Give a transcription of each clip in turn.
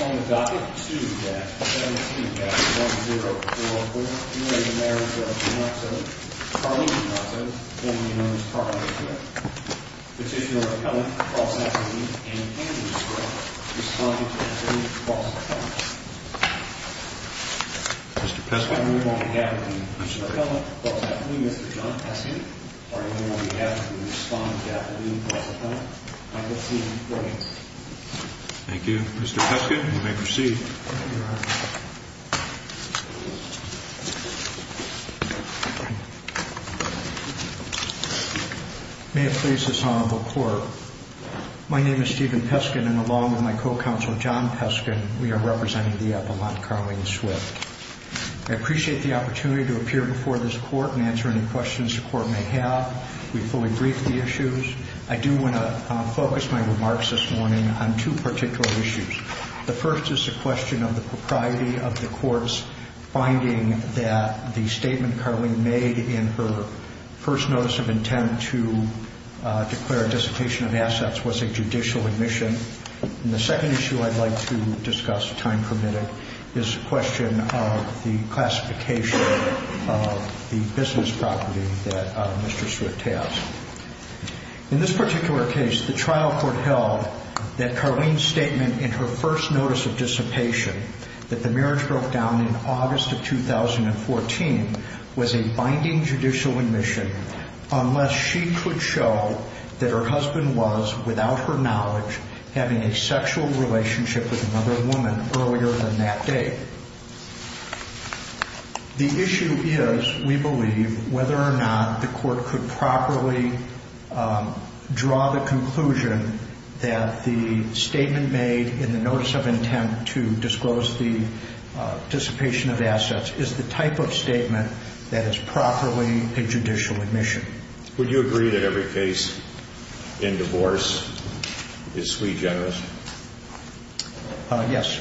On the docket, student dash 17 dash 1044, Marriage of Denotto, Carly Denotto, family known as Carly Denotto, Petitioner McCullough, false affidavit, and Andrew Scott, responding to a student false affidavit. Mr. Peskin. On behalf of the Petitioner McCullough, false affidavit, Mr. John Peskin, on behalf of the responding affidavit, false affidavit, Michael C. Briggins. Thank you, Mr. Peskin. You may proceed. May it please this honorable court. My name is Stephen Peskin and along with my co-counsel, John Peskin, we are representing the epilogue, Carly and Swift. I appreciate the opportunity to appear before this court and answer any questions the court may have. We fully briefed the issues. I do want to focus my remarks this morning on two particular issues. The first is a question of the propriety of the courts finding that the statement Carly made in her first notice of intent to declare dissertation of assets was a judicial admission. The second issue I'd like to discuss, time permitted, is a question of the classification of the business property that Mr. Swift has. In this particular case, the trial court held that Carly's statement in her first notice of dissertation, that the marriage broke down in August of 2014, was a binding judicial admission unless she could show that her husband was, without her knowledge, having a sexual relationship with another woman earlier than that date. The issue is, we believe, whether or not the court could properly draw the conclusion that the statement made in the notice of intent to disclose the dissipation of assets is the type of statement that is properly a judicial admission. Would you agree that every case in divorce is sui generis? Yes.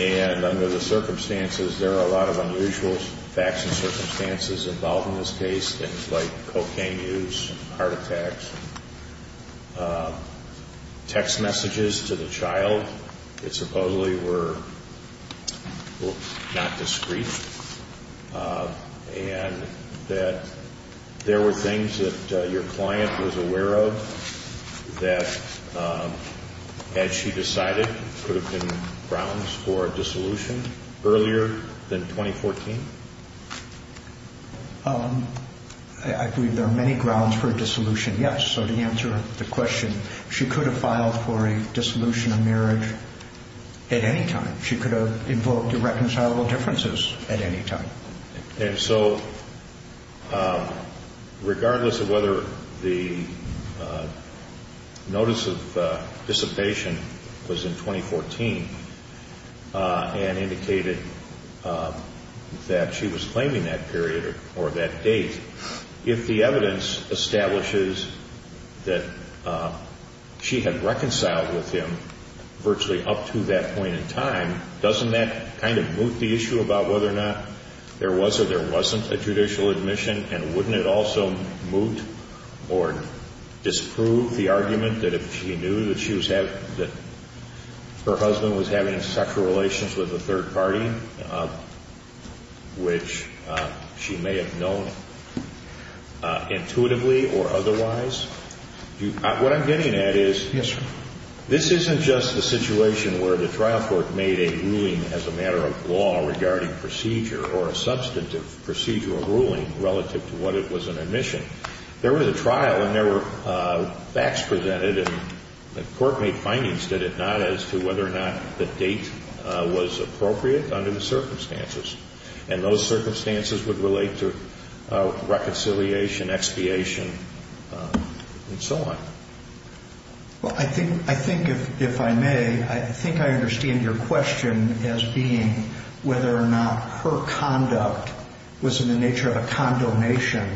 And under the circumstances, there are a lot of unusual facts and circumstances involved in this case, things like cocaine use, heart attacks, text messages to the child that supposedly were not discreet, and that there were things that your client was aware of that, as she decided, could have been grounds for a dissolution earlier than 2014? I believe there are many grounds for a dissolution, yes. So to answer the question, she could have filed for a dissolution of marriage at any time. She could have invoked irreconcilable differences at any time. And so, regardless of whether the notice of dissipation was in 2014 and indicated that she was claiming that period or that date, if the evidence establishes that she had reconciled with him virtually up to that point in time, doesn't that kind of moot the issue about whether or not there was or there wasn't a judicial admission? And wouldn't it also moot or disprove the argument that if she knew that her husband was having sexual relations with a third party, which she may have known intuitively or otherwise? What I'm getting at is this isn't just a situation where the trial court made a ruling as a matter of law regarding procedure or a substantive procedural ruling relative to what it was an admission. There was a trial, and there were facts presented, and the court made findings, did it not, as to whether or not the date was appropriate under the circumstances. And those circumstances would relate to reconciliation, expiation, and so on. Well, I think, if I may, I think I understand your question as being whether or not her conduct was in the nature of a condonation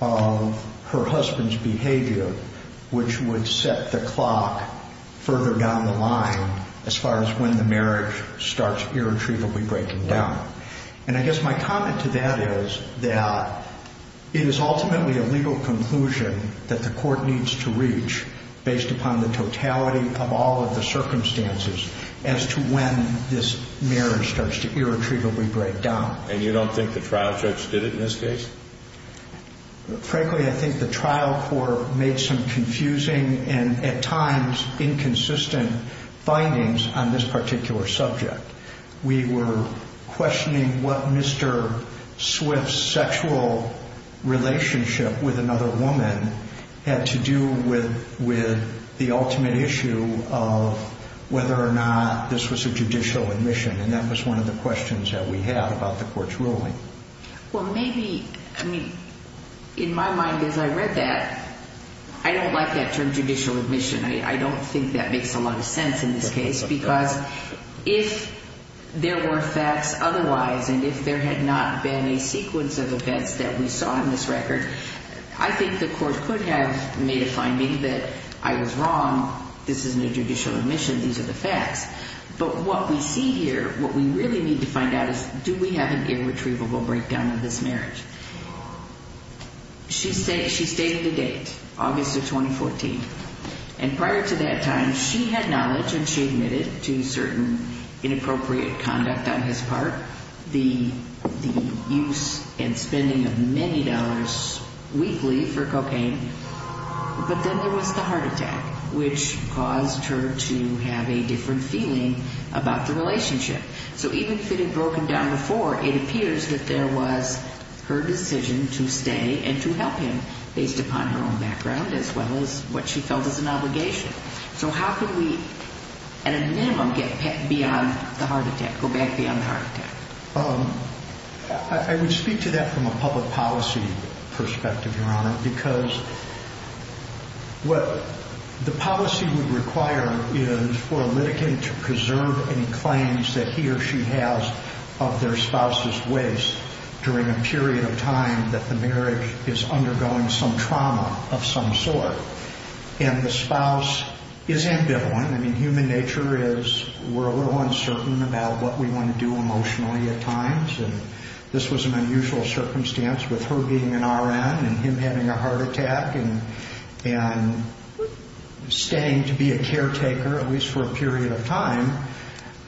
of her husband's behavior, which would set the clock further down the line as far as when the marriage starts irretrievably breaking down. And I guess my comment to that is that it is ultimately a legal conclusion that the court needs to reach based upon the totality of all of the circumstances as to when this marriage starts to irretrievably break down. And you don't think the trial judge did it in this case? Frankly, I think the trial court made some confusing and, at times, inconsistent findings on this particular subject. We were questioning what Mr. Swift's sexual relationship with another woman had to do with the ultimate issue of whether or not this was a judicial admission, and that was one of the questions that we had about the court's ruling. Well, maybe, I mean, in my mind, as I read that, I don't like that term, judicial admission. I don't think that makes a lot of sense in this case because if there were facts otherwise and if there had not been a sequence of events that we saw in this record, I think the court could have made a finding that I was wrong, this isn't a judicial admission, these are the facts. But what we see here, what we really need to find out is do we have an irretrievable breakdown of this marriage? She stated the date, August of 2014, and prior to that time, she had knowledge and she admitted to certain inappropriate conduct on his part, the use and spending of many dollars weekly for cocaine, but then there was the heart attack, which caused her to have a different feeling about the relationship. So even if it had broken down before, it appears that there was her decision to stay and to help him based upon her own background as well as what she felt was an obligation. So how could we, at a minimum, get beyond the heart attack, go back beyond the heart attack? I would speak to that from a public policy perspective, Your Honor, because what the policy would require is for a litigant to preserve any claims that he or she has of their spouse's waste during a period of time that the marriage is undergoing some trauma of some sort. And the spouse is ambivalent. I mean, human nature is we're a little uncertain about what we want to do emotionally at times, and this was an unusual circumstance with her being an RN and him having a heart attack and staying to be a caretaker, at least for a period of time.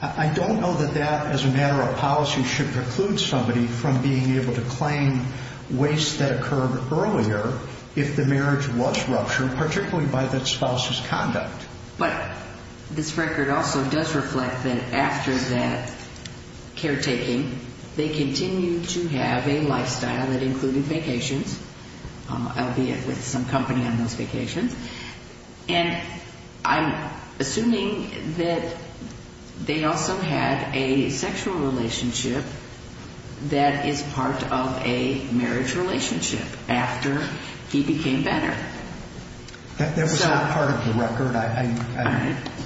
I don't know that that as a matter of policy should preclude somebody from being able to claim waste that occurred earlier if the marriage was ruptured, particularly by that spouse's conduct. But this record also does reflect that after that caretaking, they continue to have a lifestyle that included vacations, albeit with some company on those vacations. And I'm assuming that they also had a sexual relationship that is part of a marriage relationship after he became better. That was not part of the record.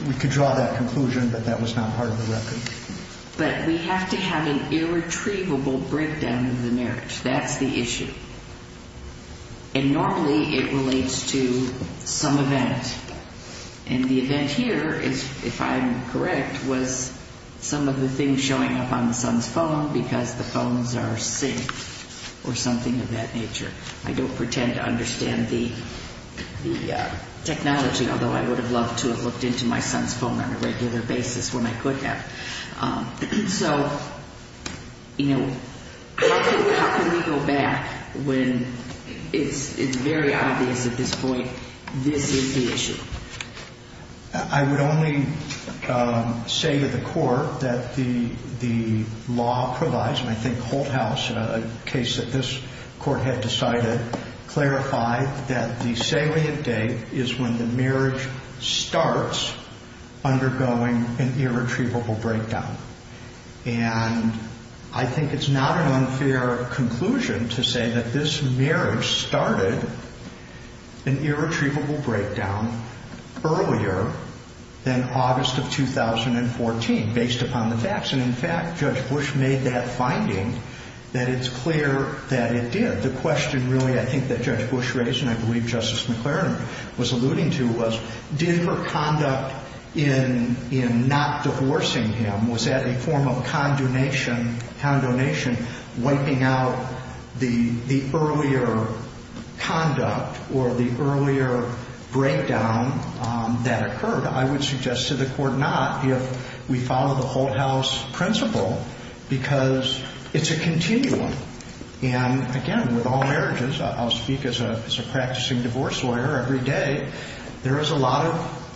We could draw that conclusion, but that was not part of the record. But we have to have an irretrievable breakdown of the marriage. That's the issue. And normally it relates to some event. And the event here, if I'm correct, was some of the things showing up on the son's phone because the phones are synced or something of that nature. I don't pretend to understand the technology, although I would have loved to have looked into my son's phone on a regular basis when I could have. So, you know, how can we go back when it's very obvious at this point this is the issue? I would only say to the court that the law provides, and I think Holthaus, a case that this court had decided, clarified that the salient date is when the marriage starts undergoing an irretrievable breakdown. And I think it's not an unfair conclusion to say that this marriage started an irretrievable breakdown earlier than August of 2014, based upon the facts. And in fact, Judge Bush made that finding that it's clear that it did. The question really I think that Judge Bush raised, and I believe Justice McLaren was alluding to, was did her conduct in not divorcing him, was that a form of condonation, wiping out the earlier conduct or the earlier breakdown that occurred? I would suggest to the court not, if we follow the Holthaus principle, because it's a continuum. And again, with all marriages, I'll speak as a practicing divorce lawyer every day, there is a lot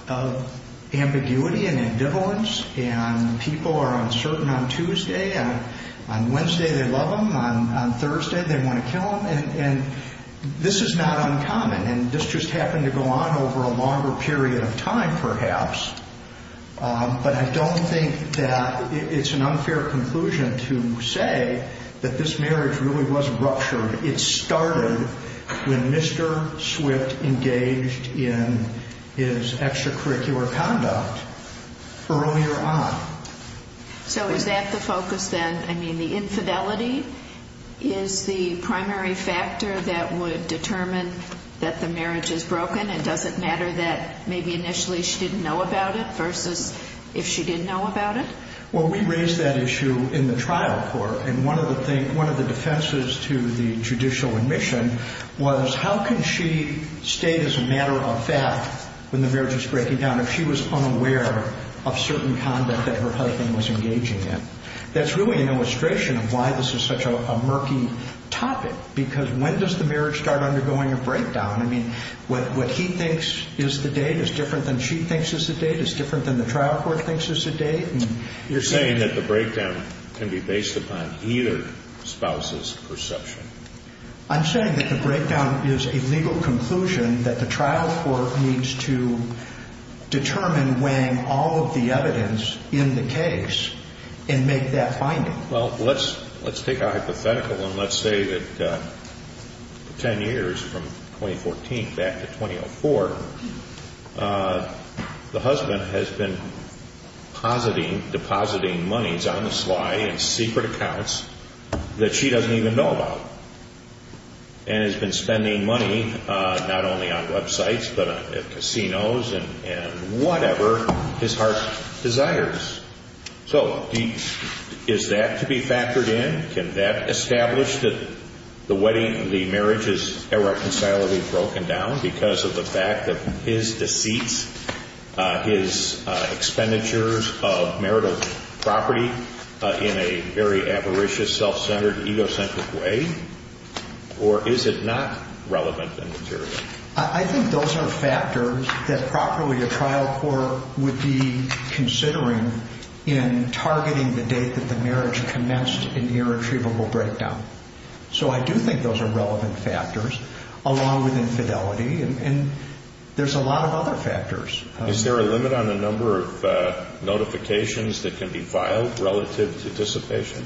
of ambiguity and people are uncertain on Tuesday. On Wednesday, they love him. On Thursday, they want to kill him. And this is not uncommon. And this just happened to go on over a longer period of time perhaps. But I don't think that it's an unfair conclusion to say that this marriage really was ruptured. It started when Mr. Swift engaged in his extracurricular conduct earlier on. So is that the focus then? I mean, the infidelity is the primary factor that would determine that the marriage is broken and does it matter that maybe initially she didn't know about it versus if she didn't know about it? Well, we raised that issue in the trial court. And one of the defenses to the judicial admission was how can she state as a matter of fact when the marriage is breaking down if she was unaware of certain conduct that her husband was engaging in? That's really an illustration of why this is such a murky topic, because when does the marriage start undergoing a breakdown? I mean, what he thinks is the date is different than she thinks is the date. It's different than the trial court thinks is the date. You're saying that the breakdown can be based upon either spouse's perception. I'm saying that the breakdown is a legal conclusion that the trial court needs to determine weighing all of the evidence in the case and make that finding. Well, let's take a hypothetical and let's say that ten years from 2014 back to 2004, the husband has been depositing monies on the sly in secret accounts that she doesn't even know about, and has been spending money not only on websites but at casinos and whatever his heart desires. So is that to be factored in? Can that establish that the marriage is irreconcilably broken down because of the fact that his deceits, his expenditures of marital property in a very avaricious, self-centered, egocentric way? Or is it not relevant and material? I think those are factors that properly a trial court would be considering in targeting the date that the marriage commenced an irretrievable breakdown. So I do think those are relevant factors along with infidelity and there's a lot of other factors. Is there a limit on the number of notifications that can be filed in anticipation?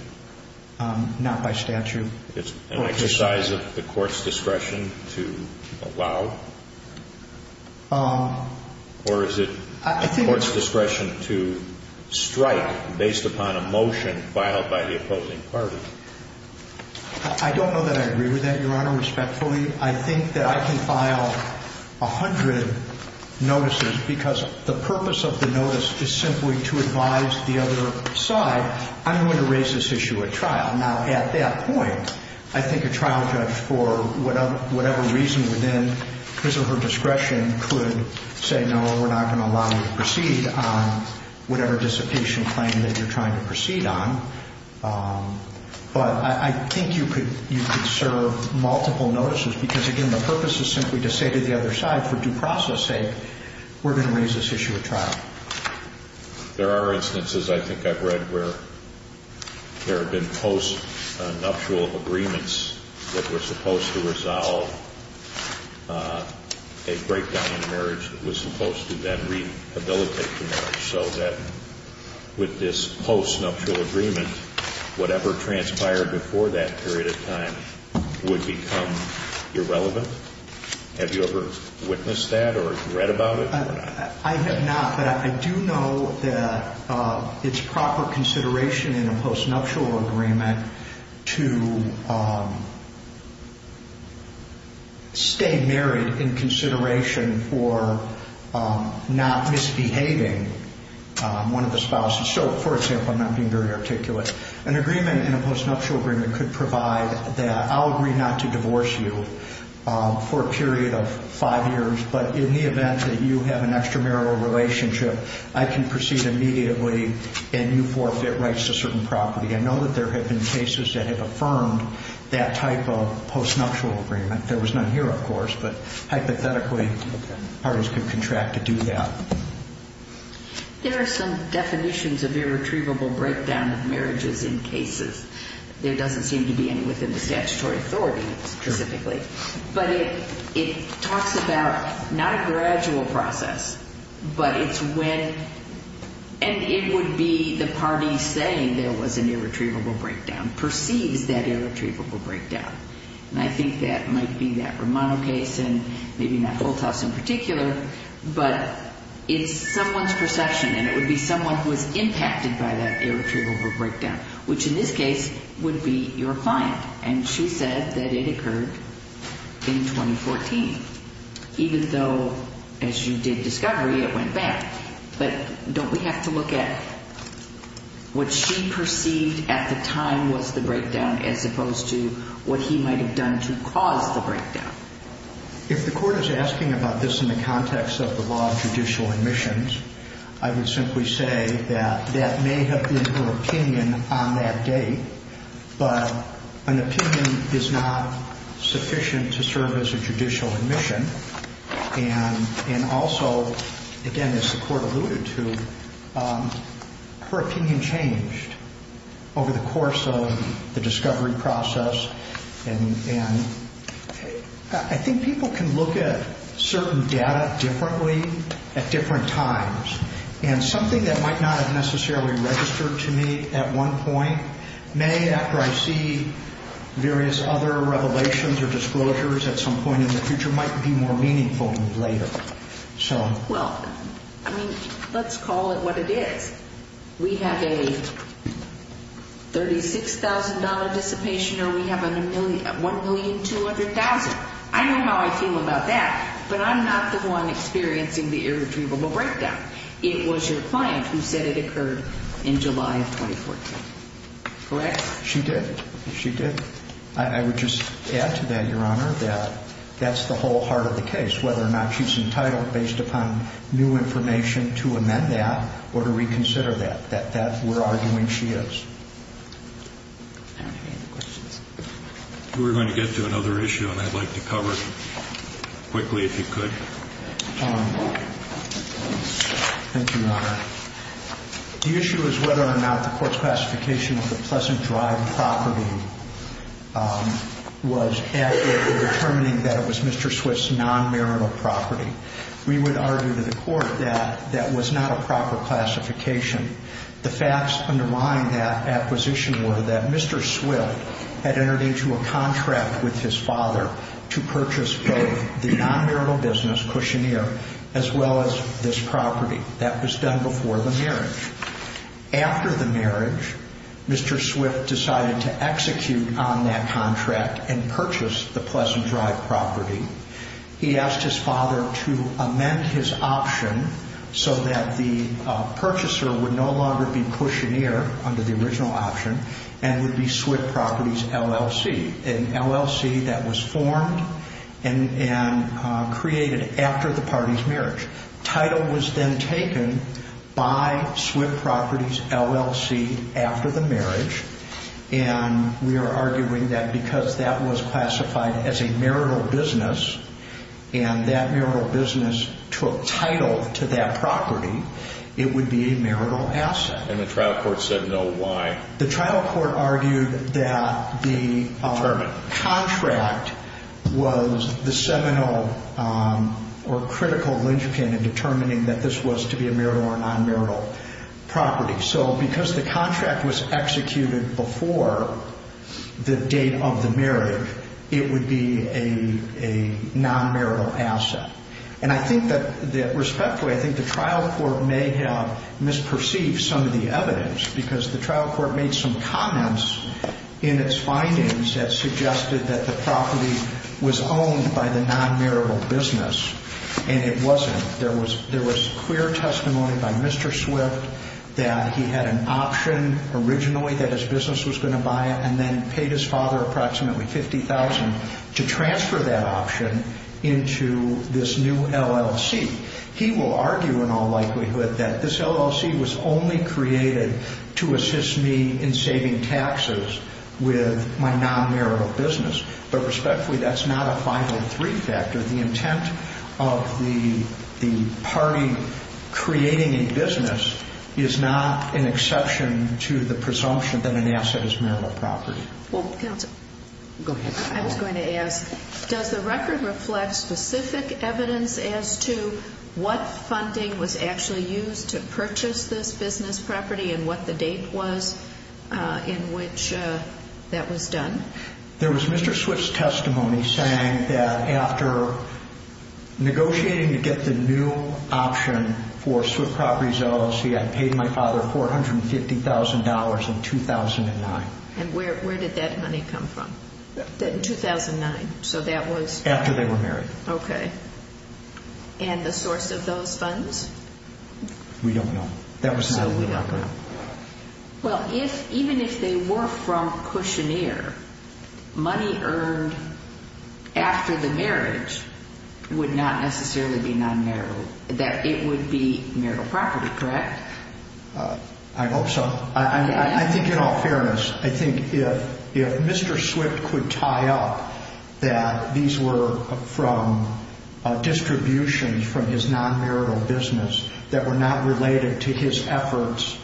Not by statute. It's an exercise of the court's discretion to allow? Or is it the court's discretion to strike based upon a motion filed by the opposing party? I don't know that I agree with that, Your Honor, respectfully. I think that I can file a hundred notices because the purpose of the notice is simply to advise the other side. I'm going to raise this issue at trial. Now, at that point, I think a trial judge, for whatever reason within his or her discretion, could say, no, we're not going to allow you to proceed on whatever dissipation claim that you're trying to proceed on. But I think you could serve multiple notices because, again, the purpose is simply to say to the other side, for due process sake, we're going to raise this issue at trial. There are instances I think I've read where there have been post-nuptial agreements that were supposed to resolve a breakdown in marriage that was supposed to then rehabilitate the marriage so that with this post-nuptial agreement, whatever transpired before that period of time would become irrelevant. Have you ever witnessed that or read about it? I have not, but I do know that it's proper consideration in a post-nuptial agreement to stay married in consideration for not misbehaving one of the spouses. So, for example, I'm not being very articulate, an agreement in a post-nuptial agreement could provide that I'll agree not to divorce you for a period of five years, but in the event that you have an extramarital relationship, I can proceed immediately and you forfeit rights to certain property. I know that there have been cases that have affirmed that type of post-nuptial agreement. There was none here, of course, but hypothetically, parties could contract to do that. There are some definitions of irretrievable breakdown of marriages in cases. There doesn't seem to be any within the statutory authority specifically, but it talks about not a gradual process, but it's when, and it would be the party saying there was an irretrievable breakdown, perceives that irretrievable breakdown. And I think that might be that Romano case and maybe not Holthaus in particular, but it's someone's perception and it would be someone who was impacted by that irretrievable breakdown, which in this case would be your client. And she said that it occurred in 2014, even though as you did discovery, it went back. But don't we have to look at what she perceived at the time was the breakdown as opposed to what he might have done to cause the breakdown? If the court is asking about this in the context of the law of judicial admissions, I would simply say that that may have been her opinion on that day, but an opinion is not sufficient to serve as a judicial admission. And also, again, as the court alluded to, her opinion changed over the course of the discovery process. And I think people can look at certain data differently at different times and something that might not have necessarily registered to me at one point may, after I see various other revelations or disclosures at some point in the future, might be more meaningful later. Well, I mean, let's call it what it is. We have a $36,000 dissipation or we have $1,200,000. I know how I feel about that, but I'm not the one experiencing the irretrievable breakdown. It was your client who said it occurred in July of 2014. Correct? She did. She did. I would just add to that, Your Honor, that that's the whole heart of the case, whether or not she's entitled, based upon new information, to amend that or to reconsider that. That we're arguing she is. I don't have any other questions. We're going to get to another issue, and I'd like to cover it quickly if you could. Thank you, Your Honor. The issue is whether or not the court's classification of the Pleasant Drive property was accurate in determining that it was Mr. Swift's non-marital property. We would argue to the court that that was not a proper classification. The facts underlying that acquisition were that Mr. Swift had entered into a contract with his father to purchase both the non-marital business, Cushoneer, as well as this property. That was done before the marriage. After the marriage, Mr. Swift decided to execute on that contract and purchase the Pleasant Drive property. He asked his father to amend his option so that the purchaser would no longer be Cushoneer under the original option and would be Swift Properties LLC, an LLC that was formed and created after the party's marriage. Title was then taken by Swift Properties LLC after the marriage, and we are arguing that because that was classified as a marital business and that marital business took title to that property, it would be a marital asset. And the trial court said no. Why? The trial court argued that the contract was the seminal or critical linchpin in determining that this was to be a marital or non-marital property. So because the contract was executed before the date of the marriage, it would be a non-marital asset. And I think that respectfully, I think the trial court may have made some comments in its findings that suggested that the property was owned by the non-marital business, and it wasn't. There was clear testimony by Mr. Swift that he had an option originally that his business was going to buy it and then paid his father approximately $50,000 to transfer that option into this new LLC. He will argue in all likelihood that this LLC was only created to assist me in saving taxes with my non-marital business. But respectfully, that's not a 503 factor. The intent of the party creating a business is not an exception to the presumption that an asset is marital property. Well, counsel. Go ahead. I was going to ask, does the record reflect specific evidence as to what funding was actually used to purchase this business property and what the date was in which that was done? There was Mr. Swift's testimony saying that after negotiating to get the new option for Swift Properties LLC, I paid my father $450,000 in 2009. And where did that money come from? In 2009. After they were married. Okay. And the source of those funds? We don't know. That was not in the record. Well, even if they were from Kushner, money earned after the marriage would not necessarily be non-marital. That it would be marital property, correct? I hope so. I think in all fairness, I think if Mr. Swift could tie up that these were from distributions from his non-marital business that were not related to his efforts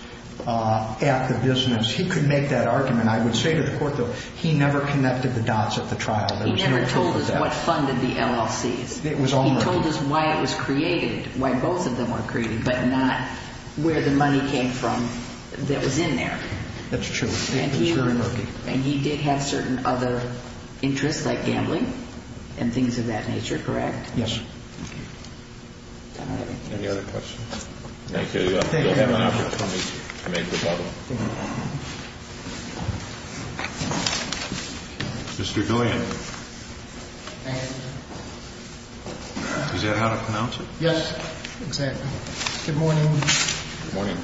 at the business, he could make that argument. I would say to the court, though, he never connected the dots at the trial. He never told us what funded the LLCs. He told us why it was created, why both of them were created, but not where the money came from that was in there. That's true. It was very murky. And he did have certain other interests like gambling and things of that nature, correct? Yes. All right. Any other questions? Thank you. Thank you. You'll have an opportunity to make the bubble. Thank you. Mr. Doyen. Thank you. Is that how to pronounce it? Yes. Exactly. Good morning. Good morning.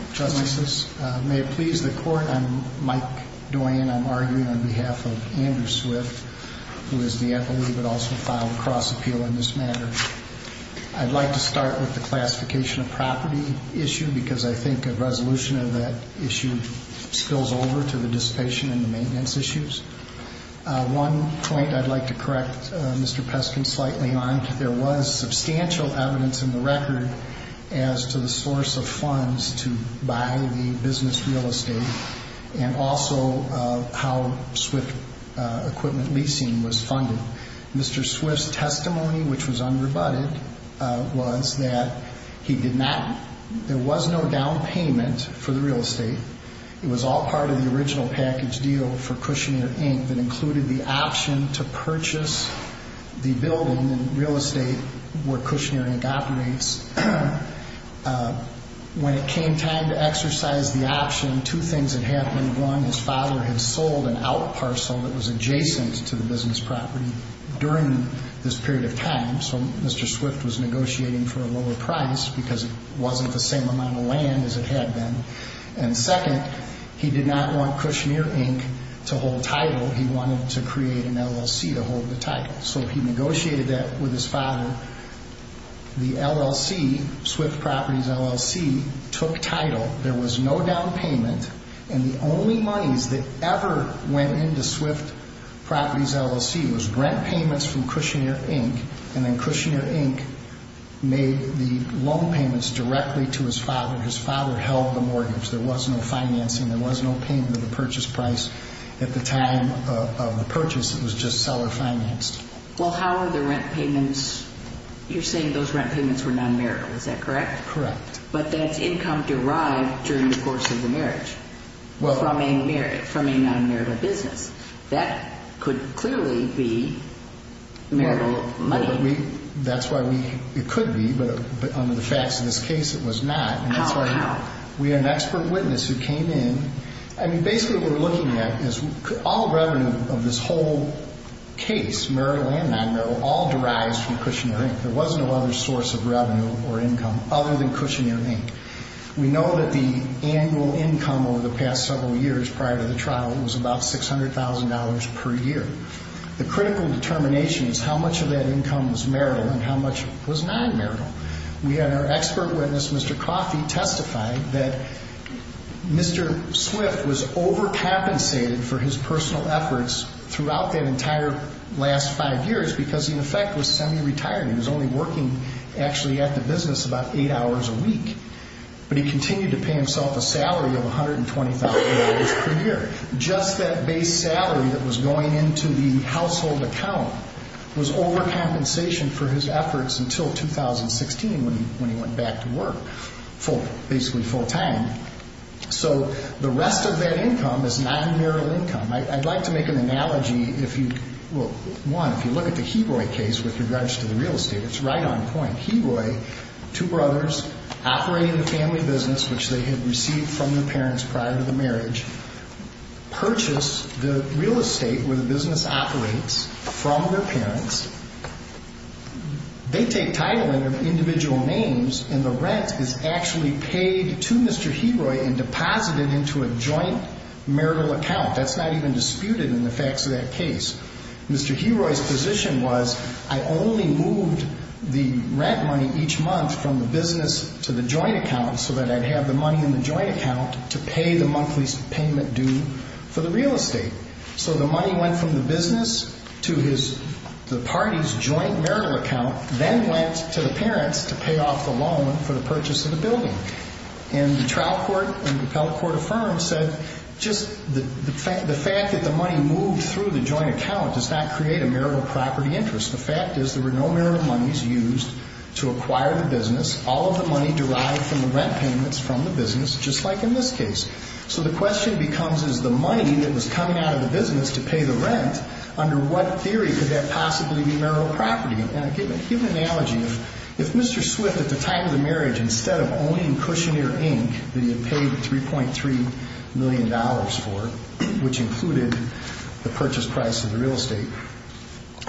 May it please the court, I'm Mike Doyen. I'm arguing on behalf of Andrew Swift, who is the FLE but also filed a cross appeal in this matter. I'd like to start with the classification of property issue because I think a resolution of that issue spills over to the dissipation and the maintenance issues. One point I'd like to correct Mr. Peskin slightly on, there was substantial evidence in the record as to the source of funds to buy the business real estate and also how Swift equipment leasing was funded. Mr. Swift's testimony, which was unrebutted, was that he did not... There was no down payment for the real estate. It was all part of the original package deal for Cushner Inc. that included the option to purchase the building in real estate where Cushner Inc. operates. When it came time to exercise the option, two things had happened. One, his father had sold an out parcel that was adjacent to the business property during this period of time. Mr. Swift was negotiating for a lower price because it wasn't the same amount of land as it had been. Second, he did not want Cushner Inc. to hold title. He wanted to create an LLC to hold the title. He negotiated that with his father. The LLC, Swift Properties LLC, took title. There was no down payment. The only monies that ever went into Swift Properties LLC was rent payments from Cushner Inc. and then Cushner Inc. made the loan payments directly to his father. His father held the mortgage. There was no financing. There was no payment of the purchase price at the time of the purchase. It was just seller financed. Well, how are the rent payments... You're saying those rent payments were non-marital. Is that correct? Correct. But that's income derived during the course of the marriage from a non-marital business. That could clearly be marital money. That's why it could be, but under the facts of this case, it was not. How? We had an expert witness who came in. Basically, what we're looking at is all revenue of this whole case, marital and non-marital, all derives from Cushner Inc. There was no other source of revenue or income other than Cushner Inc. We know that the annual income over the past several years prior to the trial was about $600,000 per year. The critical determination is how much of that income was marital and how much was non-marital. We had our expert witness, Mr. Coffey, testify that Mr. Swift was over-compensated for his personal efforts throughout that entire last five years because he, in effect, was semi-retired. He was only working actually at the business about eight hours a week, but he continued to pay himself a salary of $120,000 per year. Just that base salary that was going into the household account was over-compensation for his efforts until 2016 when he went back to work, basically full-time. So the rest of that income is non-marital income. I'd like to make an analogy. Well, one, if you look at the Hebroy case with regards to the real estate, it's right on point. Hebroy, two brothers operating the family business, which they had received from their parents prior to the marriage, purchased the real estate where the business operates from their parents. They take title under individual names, and the rent is actually paid to Mr. Hebroy and deposited into a joint marital account. That's not even disputed in the facts of that case. Mr. Hebroy's position was I only moved the rent money each month from the business to the joint account so that I'd have the money in the joint account to pay the monthly payment due for the real estate. So the money went from the business to the party's joint marital account, then went to the parents to pay off the loan for the purchase of the building. And the trial court and the appellate court affirmed said just the fact that the money moved through the joint account does not create a marital property interest. The fact is there were no marital monies used to acquire the business. All of the money derived from the rent payments from the business, just like in this case. So the question becomes is the money that was coming out of the business to pay the rent, under what theory could that possibly be marital property? And to give an analogy, if Mr. Swift at the time of the Cushioner Inc. that he had paid $3.3 million for, which included the purchase price of the real estate,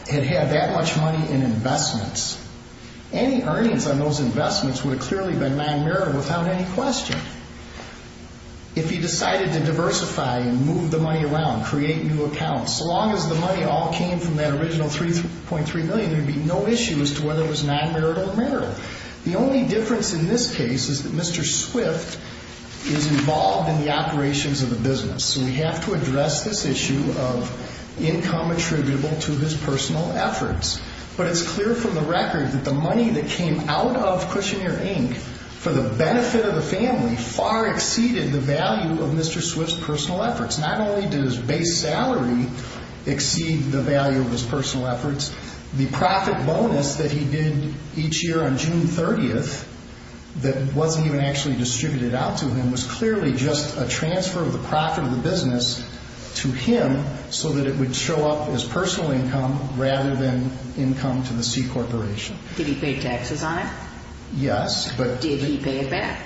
had had that much money in investments, any earnings on those investments would have clearly been non-marital without any question. If he decided to diversify and move the money around, create new accounts, so long as the money all came from that original $3.3 million, there would be no issue as to whether it was non-marital or marital. The only difference in this case is that Mr. Swift is involved in the operations of the business. So we have to address this issue of income attributable to his personal efforts. But it's clear from the record that the money that came out of Cushioner Inc. for the benefit of the family far exceeded the value of Mr. Swift's personal efforts. Not only did his base salary exceed the value of his personal efforts, the profit bonus that he did each year on June 30th that wasn't even actually distributed out to him was clearly just a transfer of the profit of the business to him so that it would show up as personal income rather than income to the C Corporation. Did he pay taxes on it? Yes. Did he pay it back?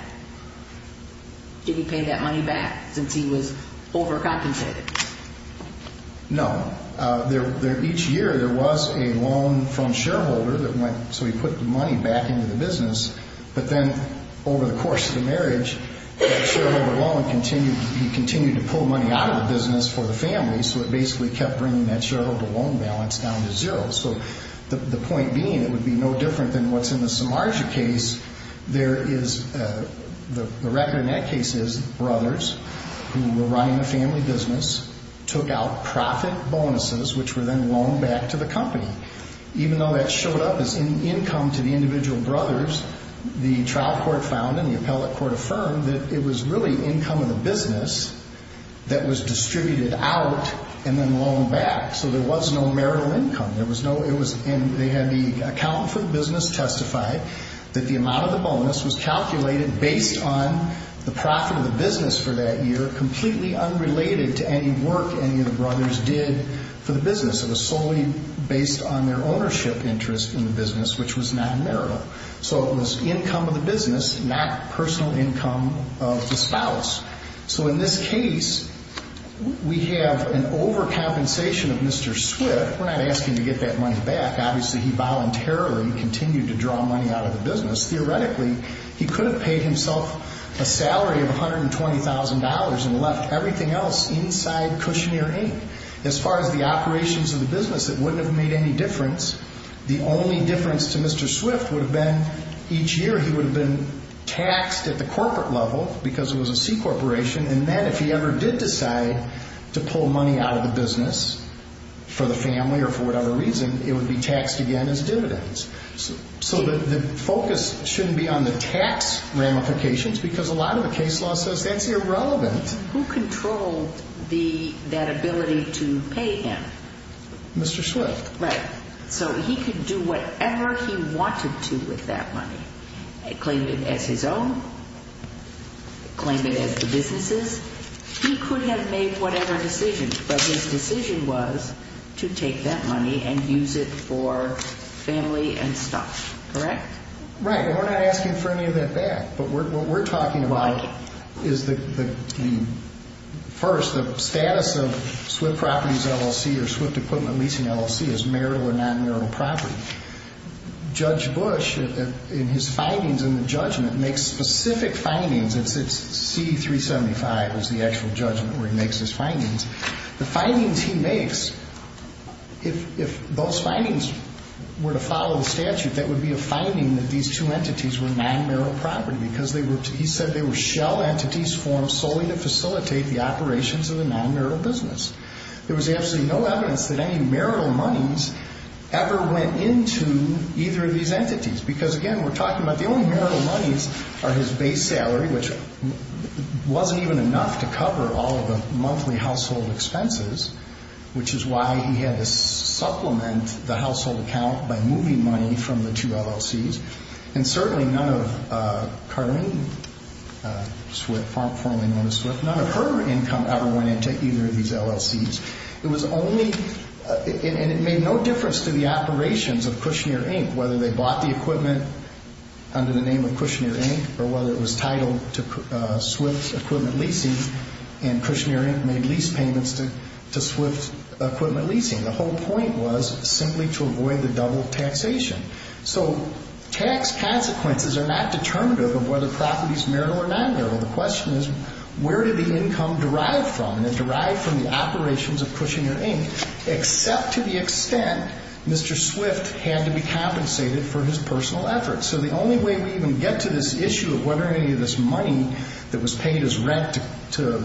Did he pay that money back since he was overcompensated? No. Each year there was a loan from a shareholder that went, so he put the money back into the business, but then over the course of the marriage, that shareholder loan continued to pull money out of the business for the family, so it basically kept bringing that shareholder loan balance down to zero. So the point being, it would be no different than what's in the Samarja case. The record in that case is brothers who were running the family business took out profit bonuses, which were then loaned back to the company. Even though that showed up as income to the individual brothers, the trial court found and the appellate court affirmed that it was really income of the business that was distributed out and then loaned back, so there was no marital income. They had the account for the business testify that the amount of the bonus was calculated based on the profit of the business for that year, completely unrelated to any work any of the brothers did for the business. It was solely based on their ownership interest in the business, which was not marital. So it was income of the business, not personal income of the spouse. So in this case, we have an overcompensation of Mr. Swift. We're not asking to get that money back. Obviously, he voluntarily continued to draw money out of the business. Theoretically, he could have paid himself a salary of $120,000 and left everything else inside Kushner Inc. As far as the operations of the business, it wouldn't have made any difference. The only difference to Mr. Swift would have been each year he would have been taxed at the corporate level because it was a C corporation, and then if he ever did decide to pull money out of the business for the family or for whatever reason, it would be taxed again as dividends. So the focus shouldn't be on the tax ramifications because a lot of the case law says that's irrelevant. Who controlled that ability to pay him? Mr. Swift. Right. So he could do whatever he wanted to with that money. Claim it as his own. Claim it as the business's. He could have made whatever decision, but his decision was to take that money and use it for family and stuff. Correct? Right. And we're not asking for any of that back, but what we're talking about is the first, the status of Swift Properties LLC or Swift Equipment Leasing LLC as marital or non-marital property. Judge Bush in his findings in the judgment makes specific findings. It's C-375 is the actual judgment where he makes his findings. The findings he makes, if those findings were to follow the statute, that would be a finding that these two entities were non-marital property because he said they were shell entities formed solely to facilitate the operations of the non-marital business. There was absolutely no evidence that any marital monies ever went into either of these entities because, again, we're talking about the only marital monies are his base salary, which wasn't even enough to cover all of the monthly household expenses, which is why he had to supplement the household account by moving money from the two LLCs. And certainly none of Carleen Swift, formerly known as Swift, none of her income ever went into either of these LLCs. It was only, and it made no difference to the operations of Kushner, Inc., whether they bought the equipment under the name of Kushner, Inc., or whether it was titled to Swift Equipment Leasing, and Kushner, Inc. made lease payments to Swift Equipment Leasing. The whole point was simply to avoid the double taxation. So tax consequences are not determinative of whether property is marital or non-marital. The question is, where did the income derive from? And it derived from the operations of Kushner, Inc., except to the extent Mr. Swift had to be compensated for his personal efforts. So the only way we even get to this issue of whether any of this money that was paid as rent to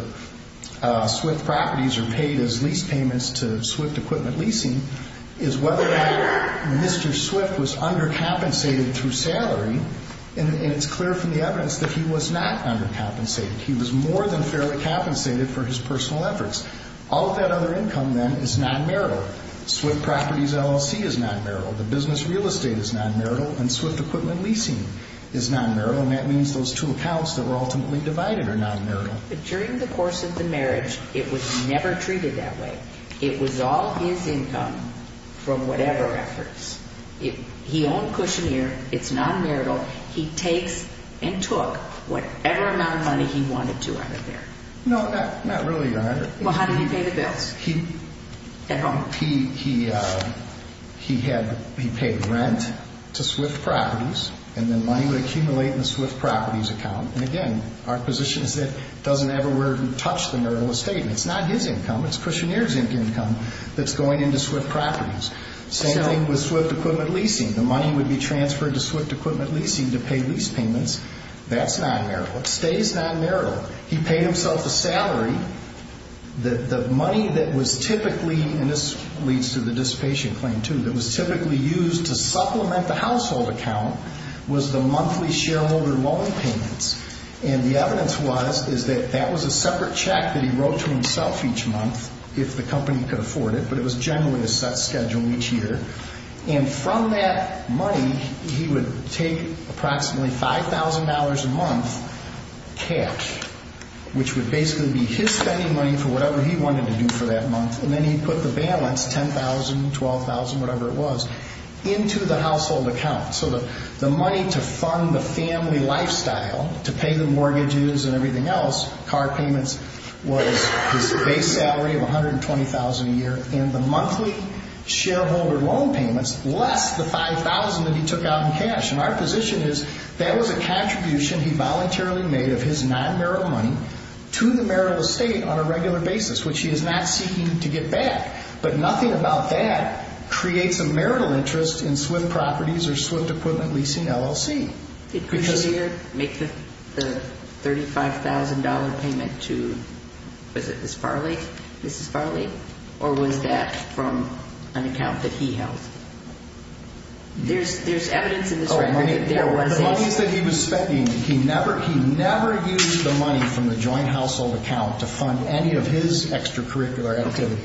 Swift Properties or paid as lease payments to Swift Equipment Leasing is whether or not Swift was undercompensated through salary. And it's clear from the evidence that he was not undercompensated. He was more than fairly compensated for his personal efforts. All of that other income, then, is non-marital. Swift Properties LLC is non-marital. The business real estate is non-marital. And Swift Equipment Leasing is non-marital. And that means those two accounts that were ultimately divided are non-marital. During the course of the marriage, it was never treated that way. It was all his income from whatever efforts. He owned Kushner. It's non-marital. He takes and took whatever amount of money he wanted to out of there. No, not really, Your Honor. Well, how did he pay the bills at home? He paid rent to Swift Properties, and then money would accumulate in the Swift Properties account. And again, our position is that it doesn't ever touch the marital estate. And it's not his income. It's Kushner's income that's going into Swift Properties. Same thing with Swift Equipment Leasing. The money would be transferred to Swift Equipment Leasing to pay lease payments. That's non-marital. It stays non-marital. He paid himself a salary. The money that was typically, and this leads to the dissipation claim, too, that was typically used to supplement the household account was the monthly shareholder loan payments. And the evidence was is that that was a separate check that the company could afford it. But it was generally a set schedule each year. And from that money, he would take approximately $5,000 a month cash, which would basically be his spending money for whatever he wanted to do for that month. And then he'd put the balance, $10,000, $12,000, whatever it was, into the household account. So the money to fund the family lifestyle, to pay the mortgages and everything else, car payments, was his base salary of $120,000 a year. And the monthly shareholder loan payments, less the $5,000 that he took out in cash. And our position is that was a contribution he voluntarily made of his non-marital money to the marital estate on a regular basis, which he is not seeking to get back. But nothing about that creates a marital interest in Swift Properties or Swift Equipment Leasing LLC. Did Cushonier make the $35,000 payment to, was it Mrs. Farley? Or was that from an account that he held? There's evidence in this record that there was a... The monies that he was spending, he never used the money from the joint household account to fund any of his extracurricular activities.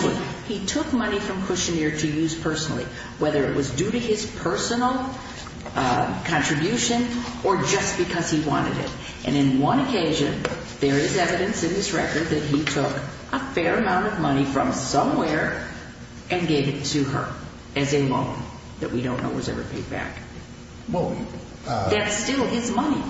But he took money from Cushonier to use personally, whether it was due to his personal contribution or just because he wanted it. And in one occasion, there is evidence in this record that he took a fair amount of money from somewhere and gave it to her as a loan that we don't know was ever paid back. That's still his money.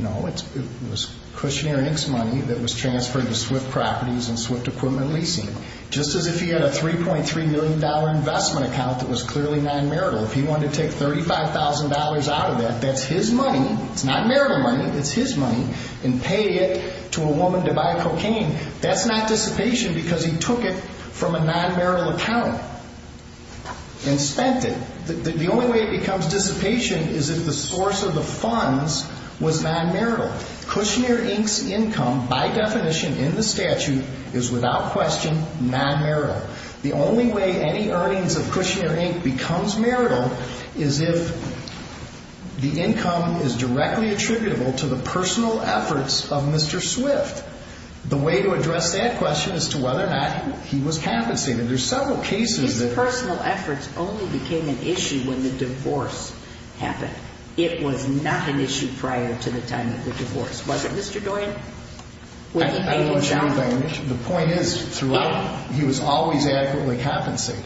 No, it was Cushonier and Inc.'s money that was transferred to Swift Properties and Swift Equipment Leasing. Just as if he had a $3.3 million investment account that was clearly non-marital. If he wanted to take $35,000 out of that, that's his money. It's not marital money. It's his money. And pay it to a woman to buy cocaine. That's not dissipation because he took it from a non-marital account and spent it. The only way it becomes dissipation is if the source of the funds was non-marital. Cushonier, Inc.'s income, by definition in the statute, is without question non-marital. The only way any earnings of Cushonier, Inc. becomes marital is if the income is directly attributable to the personal efforts of Mr. Swift. The way to address that question is to whether or not he was compensated. There's several cases that... His personal efforts only became an issue when the divorce happened. It was not an issue prior to the time of the divorce. Was it, Mr. Dorian? Well, I don't know if you understand what I mean. The point is, throughout, he was always adequately compensated.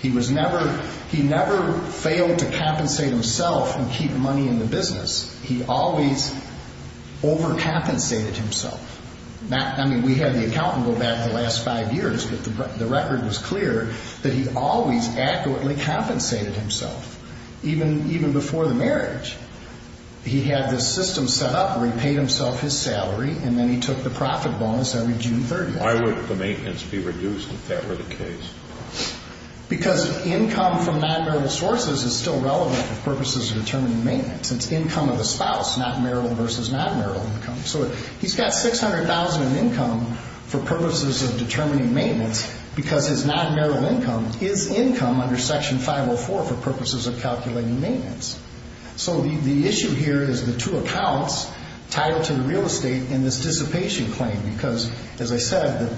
He was never... He never failed to compensate himself and keep money in the business. He always overcompensated himself. I mean, we had the accountant go back the last five years but the record was clear that he always accurately compensated himself, even before the marriage. He had this system set up where he paid himself his salary and then he took the profit bonus every June 30th. Why would the maintenance be reduced if that were the case? Because income from non-marital sources is still relevant for purposes of determining maintenance. It's income of the spouse, not marital versus non-marital income. So he's got $600,000 in income for purposes of determining maintenance because his non-marital income is income under Section 504 for purposes of calculating maintenance. So the issue here is the two accounts tied to real estate and this dissipation claim because, as I said,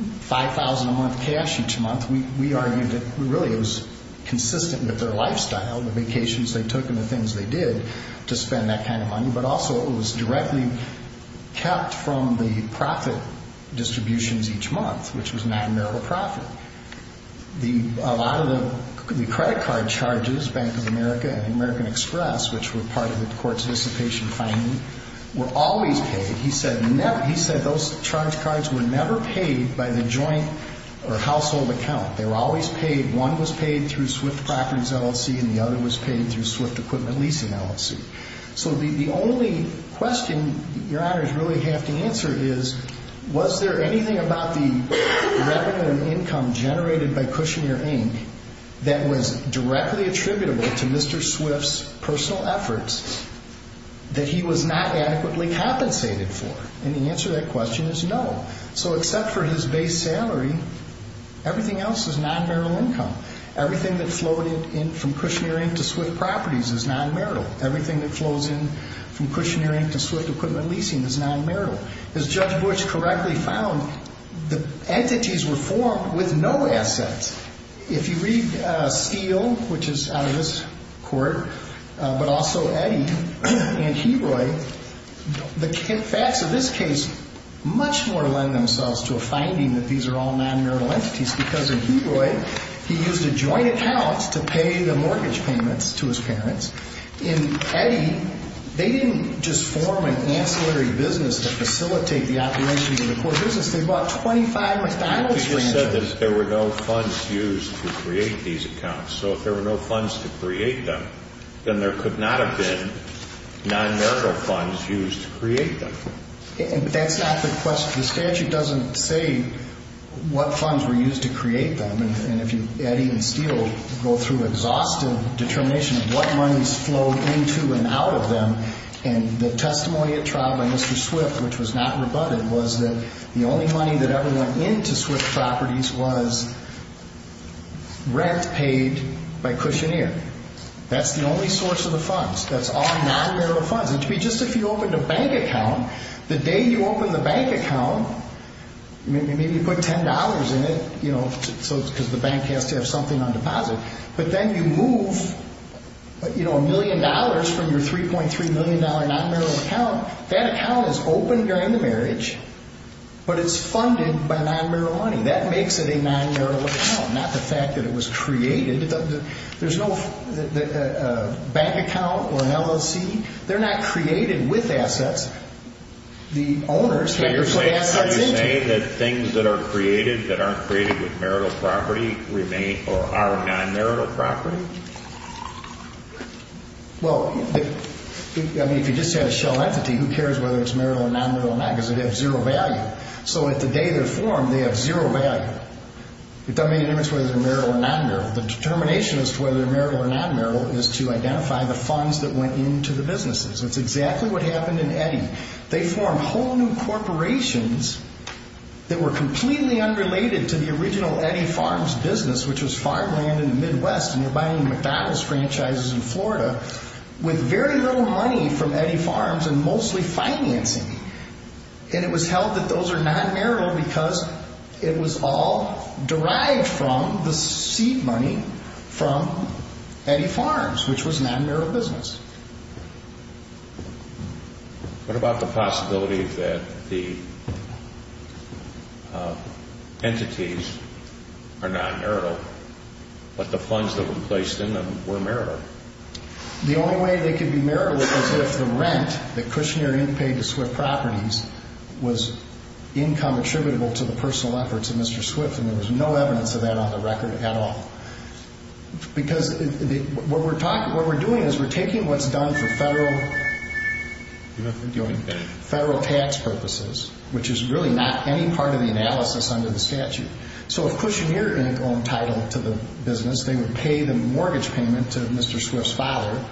$5,000 a month cash each month, we argued that really it was consistent with their lifestyle, the vacations they took and the things they did to spend that kind of money but also it was directly kept from the profit distributions each month, which was non-marital profit. A lot of the credit card charges, Bank of America and American Express, which were part of the court's dissipation claim, were always paid. He said those charge cards were never paid by the joint or household account. They were always paid. One was paid through Swift Properties LLC and the other was paid through Swift Equipment Leasing LLC. So the only question your honors really have to answer is was there anything about the revenue and income generated by Kushner, Inc. that was directly attributable to Mr. Swift's personal efforts that he was not adequately compensated for? And the answer to that question is no. So except for his base salary, everything else is non-marital income. Everything that flowed in from Kushner, Inc. to Swift Properties is non-marital. Everything that flows in from Kushner, Inc. to Swift Equipment Leasing is non-marital. As Judge Bush correctly found, the entities were formed with no assets. If you read Steele, which is out of this court, but also Eddy and Hebroi, the facts of this case much more lend themselves to a finding that these are all non-marital entities because in Hebroi, he used a joint account to pay the mortgage payments to his parents. In Eddy, they didn't just form an ancillary business to facilitate the operation of the core business. They bought 25 McDonald's branches. He said that there were no funds used to create these accounts. So if there were no funds to create them, then there could not have been non-marital funds used to create them. That's not the question. The statute doesn't say what funds were used to create them. And if you, Eddy and Steele, go through exhaustive determination of what monies flowed into and out of them, and the testimony at trial by Mr. Swift, which was not rebutted, was that the only money that ever went into Swift Properties was rent paid by Kushner. That's the only source of the funds. That's all non-marital funds. Just if you opened a bank account, the day you open the bank account, maybe you put $10 in it because the bank has to have something on deposit, but then you move a million dollars from your $3.3 million non-marital account, that account is open during the marriage, but it's funded by non-marital money. That makes it a non-marital account, not the fact that it was created. There's no bank account or an LLC. They're not created with assets. The owners have to put assets into them. So you're saying that things that are created that aren't created with marital property are non-marital property? Well, I mean, if you just had a shell entity, who cares whether it's marital or non-marital or not because it has zero value. So at the day they're formed, they have zero value. It doesn't make a difference whether they're marital or non-marital. The determination as to whether they're marital or non-marital is to identify the funds that went into the businesses. That's exactly what happened in Eddy. They formed whole new corporations that were completely unrelated to the original Eddy Farms business, which was farmland in the Midwest and you're buying McDonald's franchises in Florida with very little money from Eddy Farms and mostly financing. And it was held that those are non-marital because it was all derived from the seed money from Eddy Farms, which was non-marital business. What about the possibility that the entities are non-marital but the funds that were placed in them were marital? The only way they could be marital was if the rent that Kushner Inc. paid to Swift Properties was income attributable to the personal efforts of Mr. Swift and there was no evidence of that on the record at all because what we're doing is we're taking what's done for federal tax purposes which is really not any part of the analysis under the statute. So if Kushner Inc. were entitled to the business, they would pay the mortgage payment to Mr. Swift's father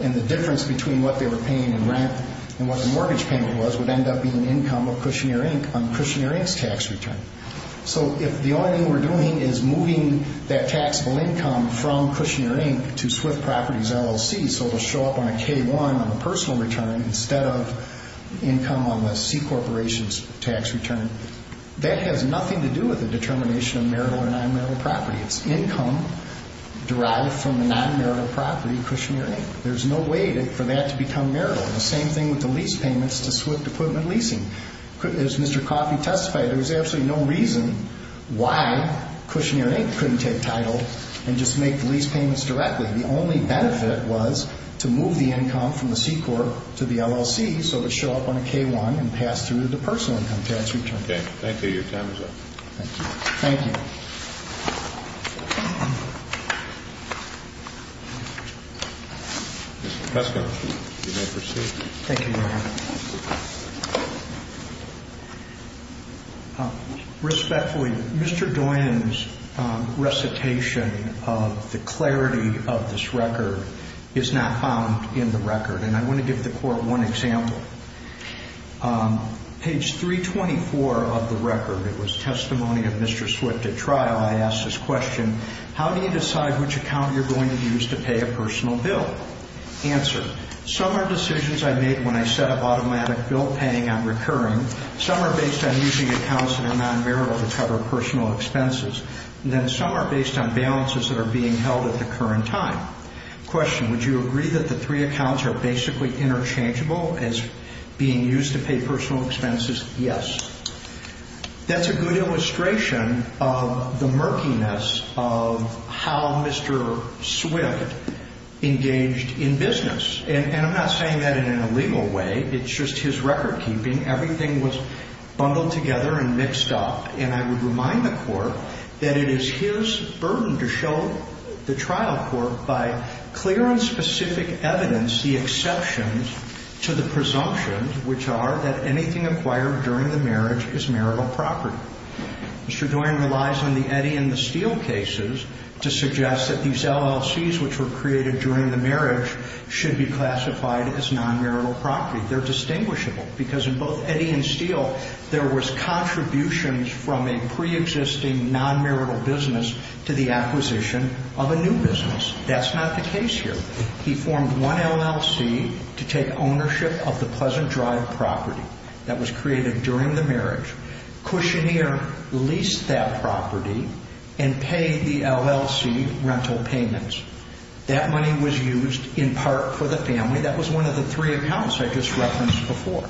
and the difference between what they were paying in rent and what the mortgage payment was would end up being income of Kushner Inc. on Kushner Inc.'s tax return. So if the only thing we're doing is moving that taxable income from Kushner Inc. to Swift Properties LLC so it'll show up on a K1 on the personal return instead of income on the C Corporation's tax return, that has nothing to do with the determination of marital or non-marital property. It's income derived from the non-marital property of Kushner Inc. There's no way for that to become marital. The same thing with the lease payments to Swift Equipment Leasing. As Mr. Coffey testified, there was absolutely no reason why Kushner Inc. couldn't take title and just make the lease payments directly. The only benefit was to move the income from the C Corp to the LLC so it would show up on a K1 and pass through the personal income tax return. Okay. Thank you. Your time is up. Thank you. Mr. Peskin, you may proceed. Thank you, Your Honor. Respectfully, Mr. Doyen's recitation of the clarity of this record is not found in the record and I want to give the Court one example. Page 324 of the record, it was testimony of Mr. Swift at trial. I asked this question, how do you decide which account you're going to use to pay a personal bill? Answer, some are decisions I make when I set up automatic bill paying on recurring. Some are based on using accounts that are non-marital to cover personal expenses. Some are based on balances that are being held at the current time. Question, would you agree that the three accounts are basically interchangeable as being used to pay personal expenses? Yes. That's a good illustration of the murkiness of how Mr. Swift engaged in business. And I'm not saying that in an illegal way. It's just his recordkeeping. Everything was bundled together and mixed up and I would remind the Court that it is his burden to show the trial court by clear and specific evidence the exceptions to the presumptions which are that anything acquired during the marriage is marital property. Mr. Doyen relies on the Eddy and the Steele cases to suggest that these LLCs which were created during the marriage should be classified as non-marital property. They're distinguishable because in both Eddy and Steele there was contributions from a pre-existing non-marital business to the acquisition of a new business here. He formed one LLC to take ownership of the Pleasant Drive property that was created during the marriage. Cushonier leased that property and paid the LLC rental payments. That money was used in part for the family. That was one of the three accounts I just referenced before.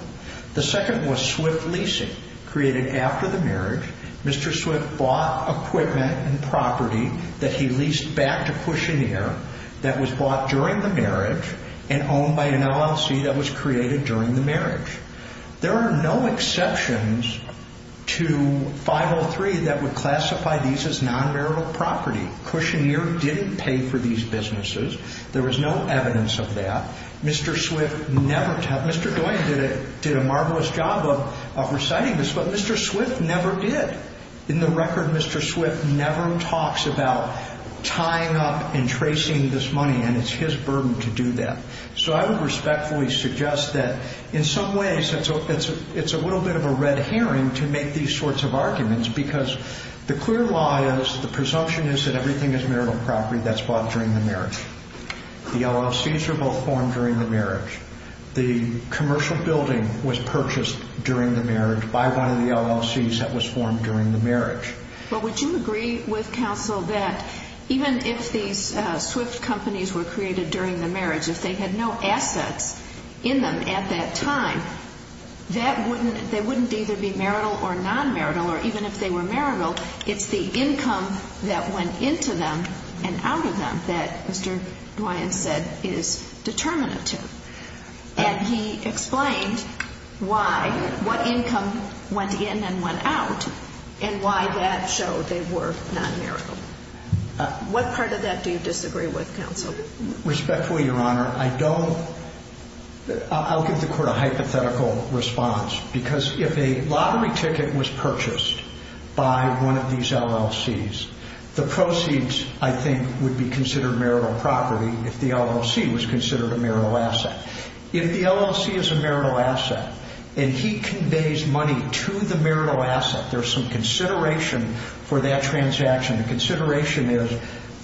The second was Swift Leasing created after the marriage. Mr. Swift bought equipment and property that he leased back to Cushonier that was bought during the marriage and owned by an LLC that was created during the marriage. There are no exceptions to 503 that would classify these as non-marital property. Cushonier didn't pay for these businesses. There was no evidence of that. Mr. Swift never did. Mr. Doyen did a marvelous job of reciting this, but Mr. Swift never did. In the record, Mr. Swift never talks about tying up and tracing this money and it's his burden to do that. I would respectfully suggest that in some ways it's a little bit of a red herring to make these sorts of arguments because the clear lie is, the presumption is that everything is marital property that's bought during the marriage. The LLCs are both formed during the marriage. The commercial building was purchased during the marriage by one of the LLCs that was formed during the marriage. Would you agree with counsel that even if these Swift companies were created during the marriage, if they had no assets in them at that time, they wouldn't either be marital or non-marital, or even if they were marital, it's the income that went into them and out of them that Mr. Doyen said is determinative. And he explained why, what income went in and went out and why that showed they were non-marital. What part of that do you disagree with, counsel? Respectfully, Your Honor, I don't I'll give the court a hypothetical response because if a lottery ticket was purchased by one of these LLCs, the proceeds, I think, would be considered marital property if the LLC was considered a marital asset. If the LLC is a marital asset and he conveys money to the marital asset, there's some consideration for that transaction. The consideration is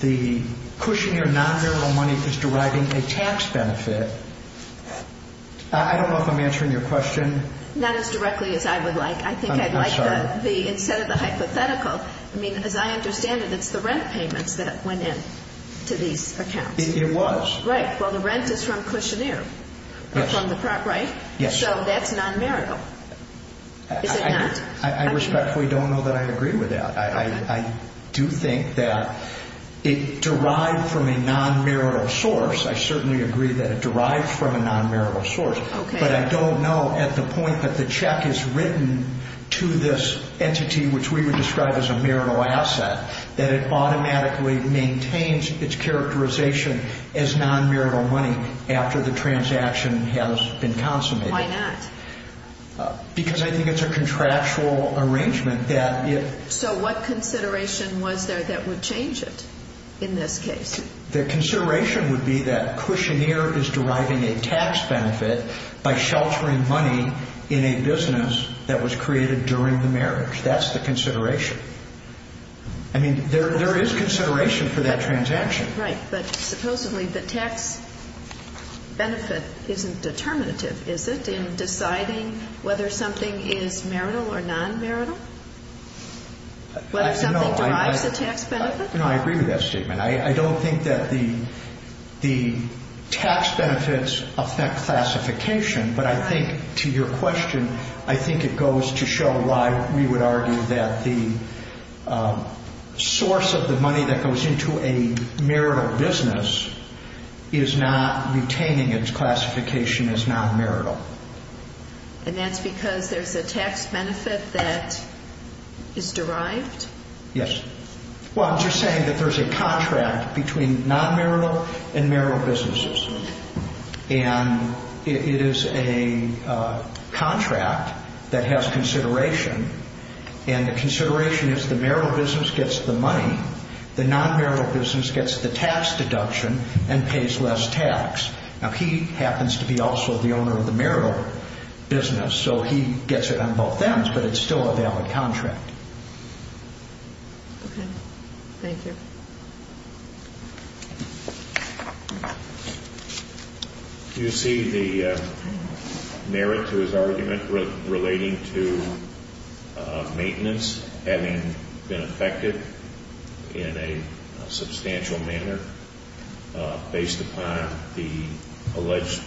the cushioneer non-marital money is deriving a tax benefit. I don't know if I'm answering your question. Not as directly as I would like. I think I'd like the, instead of the hypothetical, I mean, as I understand it, it's the rent payments that went in to these accounts. It was. Right. Well, the rent is from cushioneer. From the prop, right? Yes. So that's non-marital. Is it not? I respectfully don't know that I agree with that. I do think that it derived from a non-marital source. I certainly agree that it derived from a non-marital source. But I don't know at the point that the check is written to this entity, which we would describe as a marital asset, that it automatically maintains its characterization as non-marital money after the transaction has been consummated. Why not? Because I think it's a contractual arrangement that So what consideration was there that would change it in this case? The consideration would be that cushioneer is deriving a tax benefit by sheltering money in a business that was created during the marriage. That's the consideration. I mean, there is consideration for that transaction. Right. But supposedly the tax benefit isn't determinative, is it, in deciding whether something is marital or non-marital? Whether something derives a tax benefit? No, I agree with that statement. I don't think that the tax benefits affect classification, but I think, to your question, I think it goes to show why we would argue that the source of the money that goes into a marital business is not retaining its classification as non-marital. And that's because there's a tax benefit that is derived? Yes. Well, I'm just saying that there's a contract between non-marital and marital businesses. And it is a contract that has consideration, and the consideration is the marital business gets the money, the non-marital business gets the tax deduction and pays less tax. Now, he happens to be also the owner of the marital business, so he gets it on both ends, but it's still a valid contract. Okay. Thank you. Do you see the merit to his argument relating to maintenance having been affected in a substantial manner based upon the alleged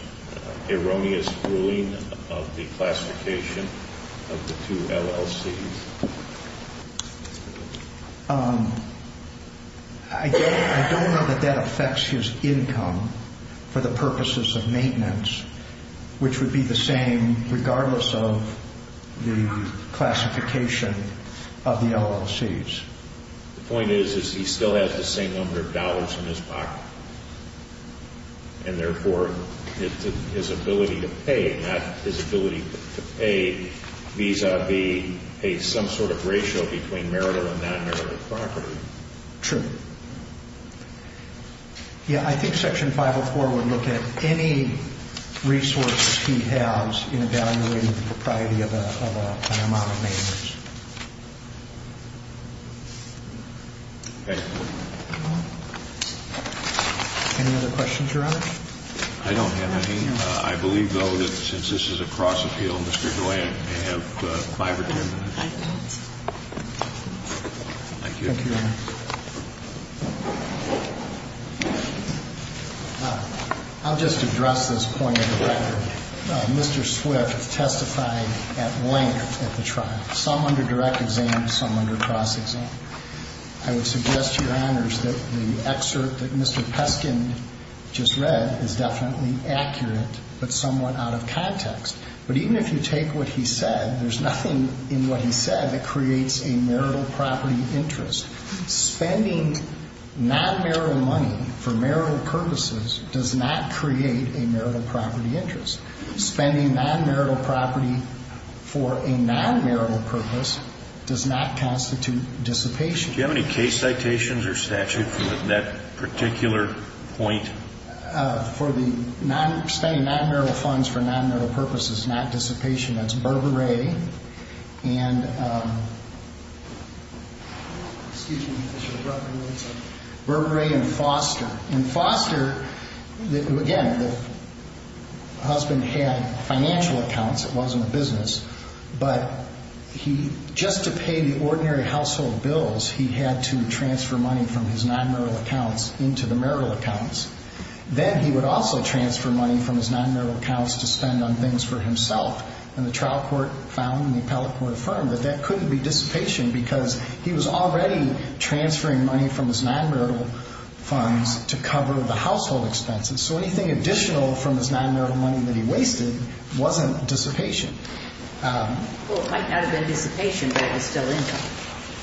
erroneous ruling of the classification of the two LLCs? I don't know that that affects his income for the purposes of maintenance, which would be the same regardless of the classification of the LLCs. The point is, is he still has the same number of dollars in his pocket, and therefore, his ability to pay, not his ability to pay vis-a-vis some sort of ratio between marital and non-marital property. True. Yeah, I think Section 504 would look at any resource he has in evaluating the propriety of an amount of maintenance. Thank you. Any other questions, Your Honor? I don't have any. I believe, though, that since this is a cross-appeal, Mr. DeWayne may have five or ten minutes. Thank you. Thank you, Your Honor. I'll just address this point of the record. Mr. Swift testified at length at the trial, some under direct exam, some under cross-exam. I would suggest to Your Honors that the excerpt that Mr. Peskin just read is definitely accurate, but somewhat out of context. But even if you take what he said, there's nothing in what he said that creates a marital property interest. Spending non-marital money for marital purposes does not create a marital property interest. Spending non-marital property for a non-marital purpose does not constitute dissipation. Do you have any case citations or statute for that particular point? Spending non-marital funds for non-marital purposes is not dissipation. That's Burberry and Burberry and Foster. And Foster, again, the husband had financial accounts. It wasn't a business. But he, just to pay the ordinary household bills, he had to transfer money from his non-marital accounts into the marital accounts. Then he would also transfer money from his non-marital accounts to spend on things for himself. And the trial court found, and the appellate court affirmed, that that couldn't be dissipation because he was already transferring money from his non-marital funds to cover the household expenses. So anything additional from his non-marital money that he wasted wasn't dissipation. Well, it might not have been dissipation, but it was still income,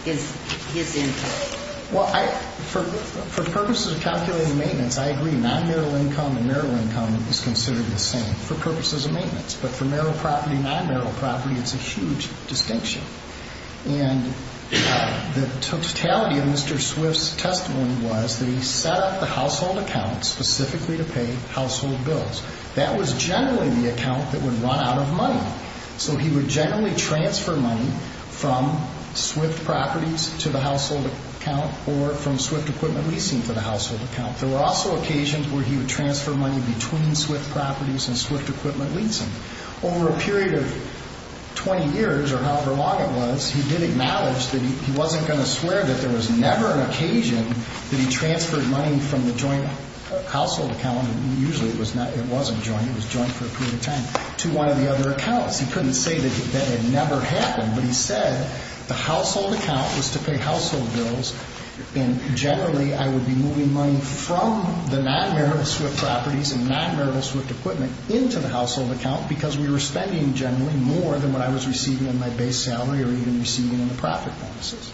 his income. Well, I, for purposes of calculating maintenance, I agree. Non-marital income and marital income is considered the same for purposes of maintenance. But for marital property and non-marital property, it's a huge distinction. And the totality of Mr. Swift's testimony was that he set up the household account specifically to pay household bills. That was generally the account that would run out of money. So he would generally transfer money from Swift properties to the household account or from Swift equipment leasing to the household account. There were also occasions where he would transfer money between Swift properties and Swift equipment leasing. Over a period of 20 years, or however long it was, he did acknowledge that he wasn't going to swear that there was never an occasion that he transferred money from the joint household account and usually it wasn't joint, it was joint for a period of time, to one of the other accounts. He couldn't say that it never happened, but he said the household account was to pay household bills and generally I would be moving money from the non-marital Swift properties and non- marital Swift equipment into the household account because we were spending generally more than what I was receiving in my base salary or even receiving in the profit bonuses.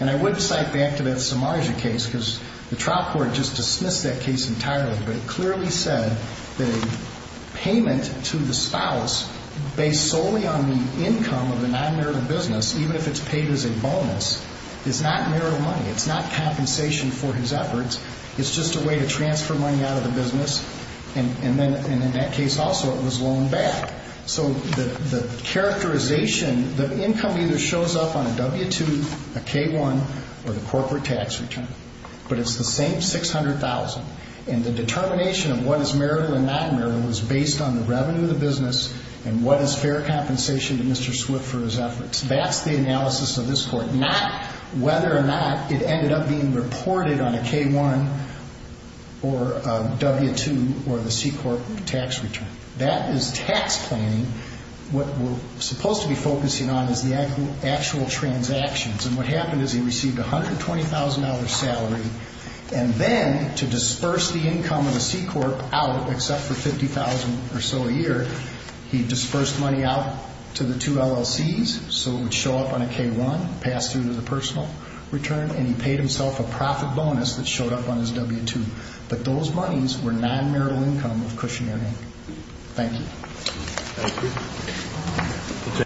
And I would cite back to that Samarja case because the trial court just dismissed that case entirely but it clearly said that a payment to the spouse based solely on the income of the non-marital business, even if it's paid as a bonus, is not marital money. It's not compensation for his efforts. It's just a way to transfer money out of the business and in that case also it was loaned back. So the characterization, the income either shows up on a W-2, a K-1, or the corporate tax return, but it's the same $600,000 and the determination of what is marital and not marital is based on the revenue of the business and what is fair compensation to Mr. Swift for his efforts. That's the analysis of this court, not whether or not it ended up being reported on a K-1 or a W-2 or the C-Corp tax return. That is tax planning. What we're supposed to be focusing on is the actual transactions and what happened is he received a $120,000 salary and then to disperse the income of the C-Corp out, except for $50,000 or so a year, he dispersed money out to the two LLCs, so it would show up on a K-1, pass through to the personal return, and he paid himself a profit bonus that showed up on his W-2. But those monies were non-marital income of cushionary. Thank you.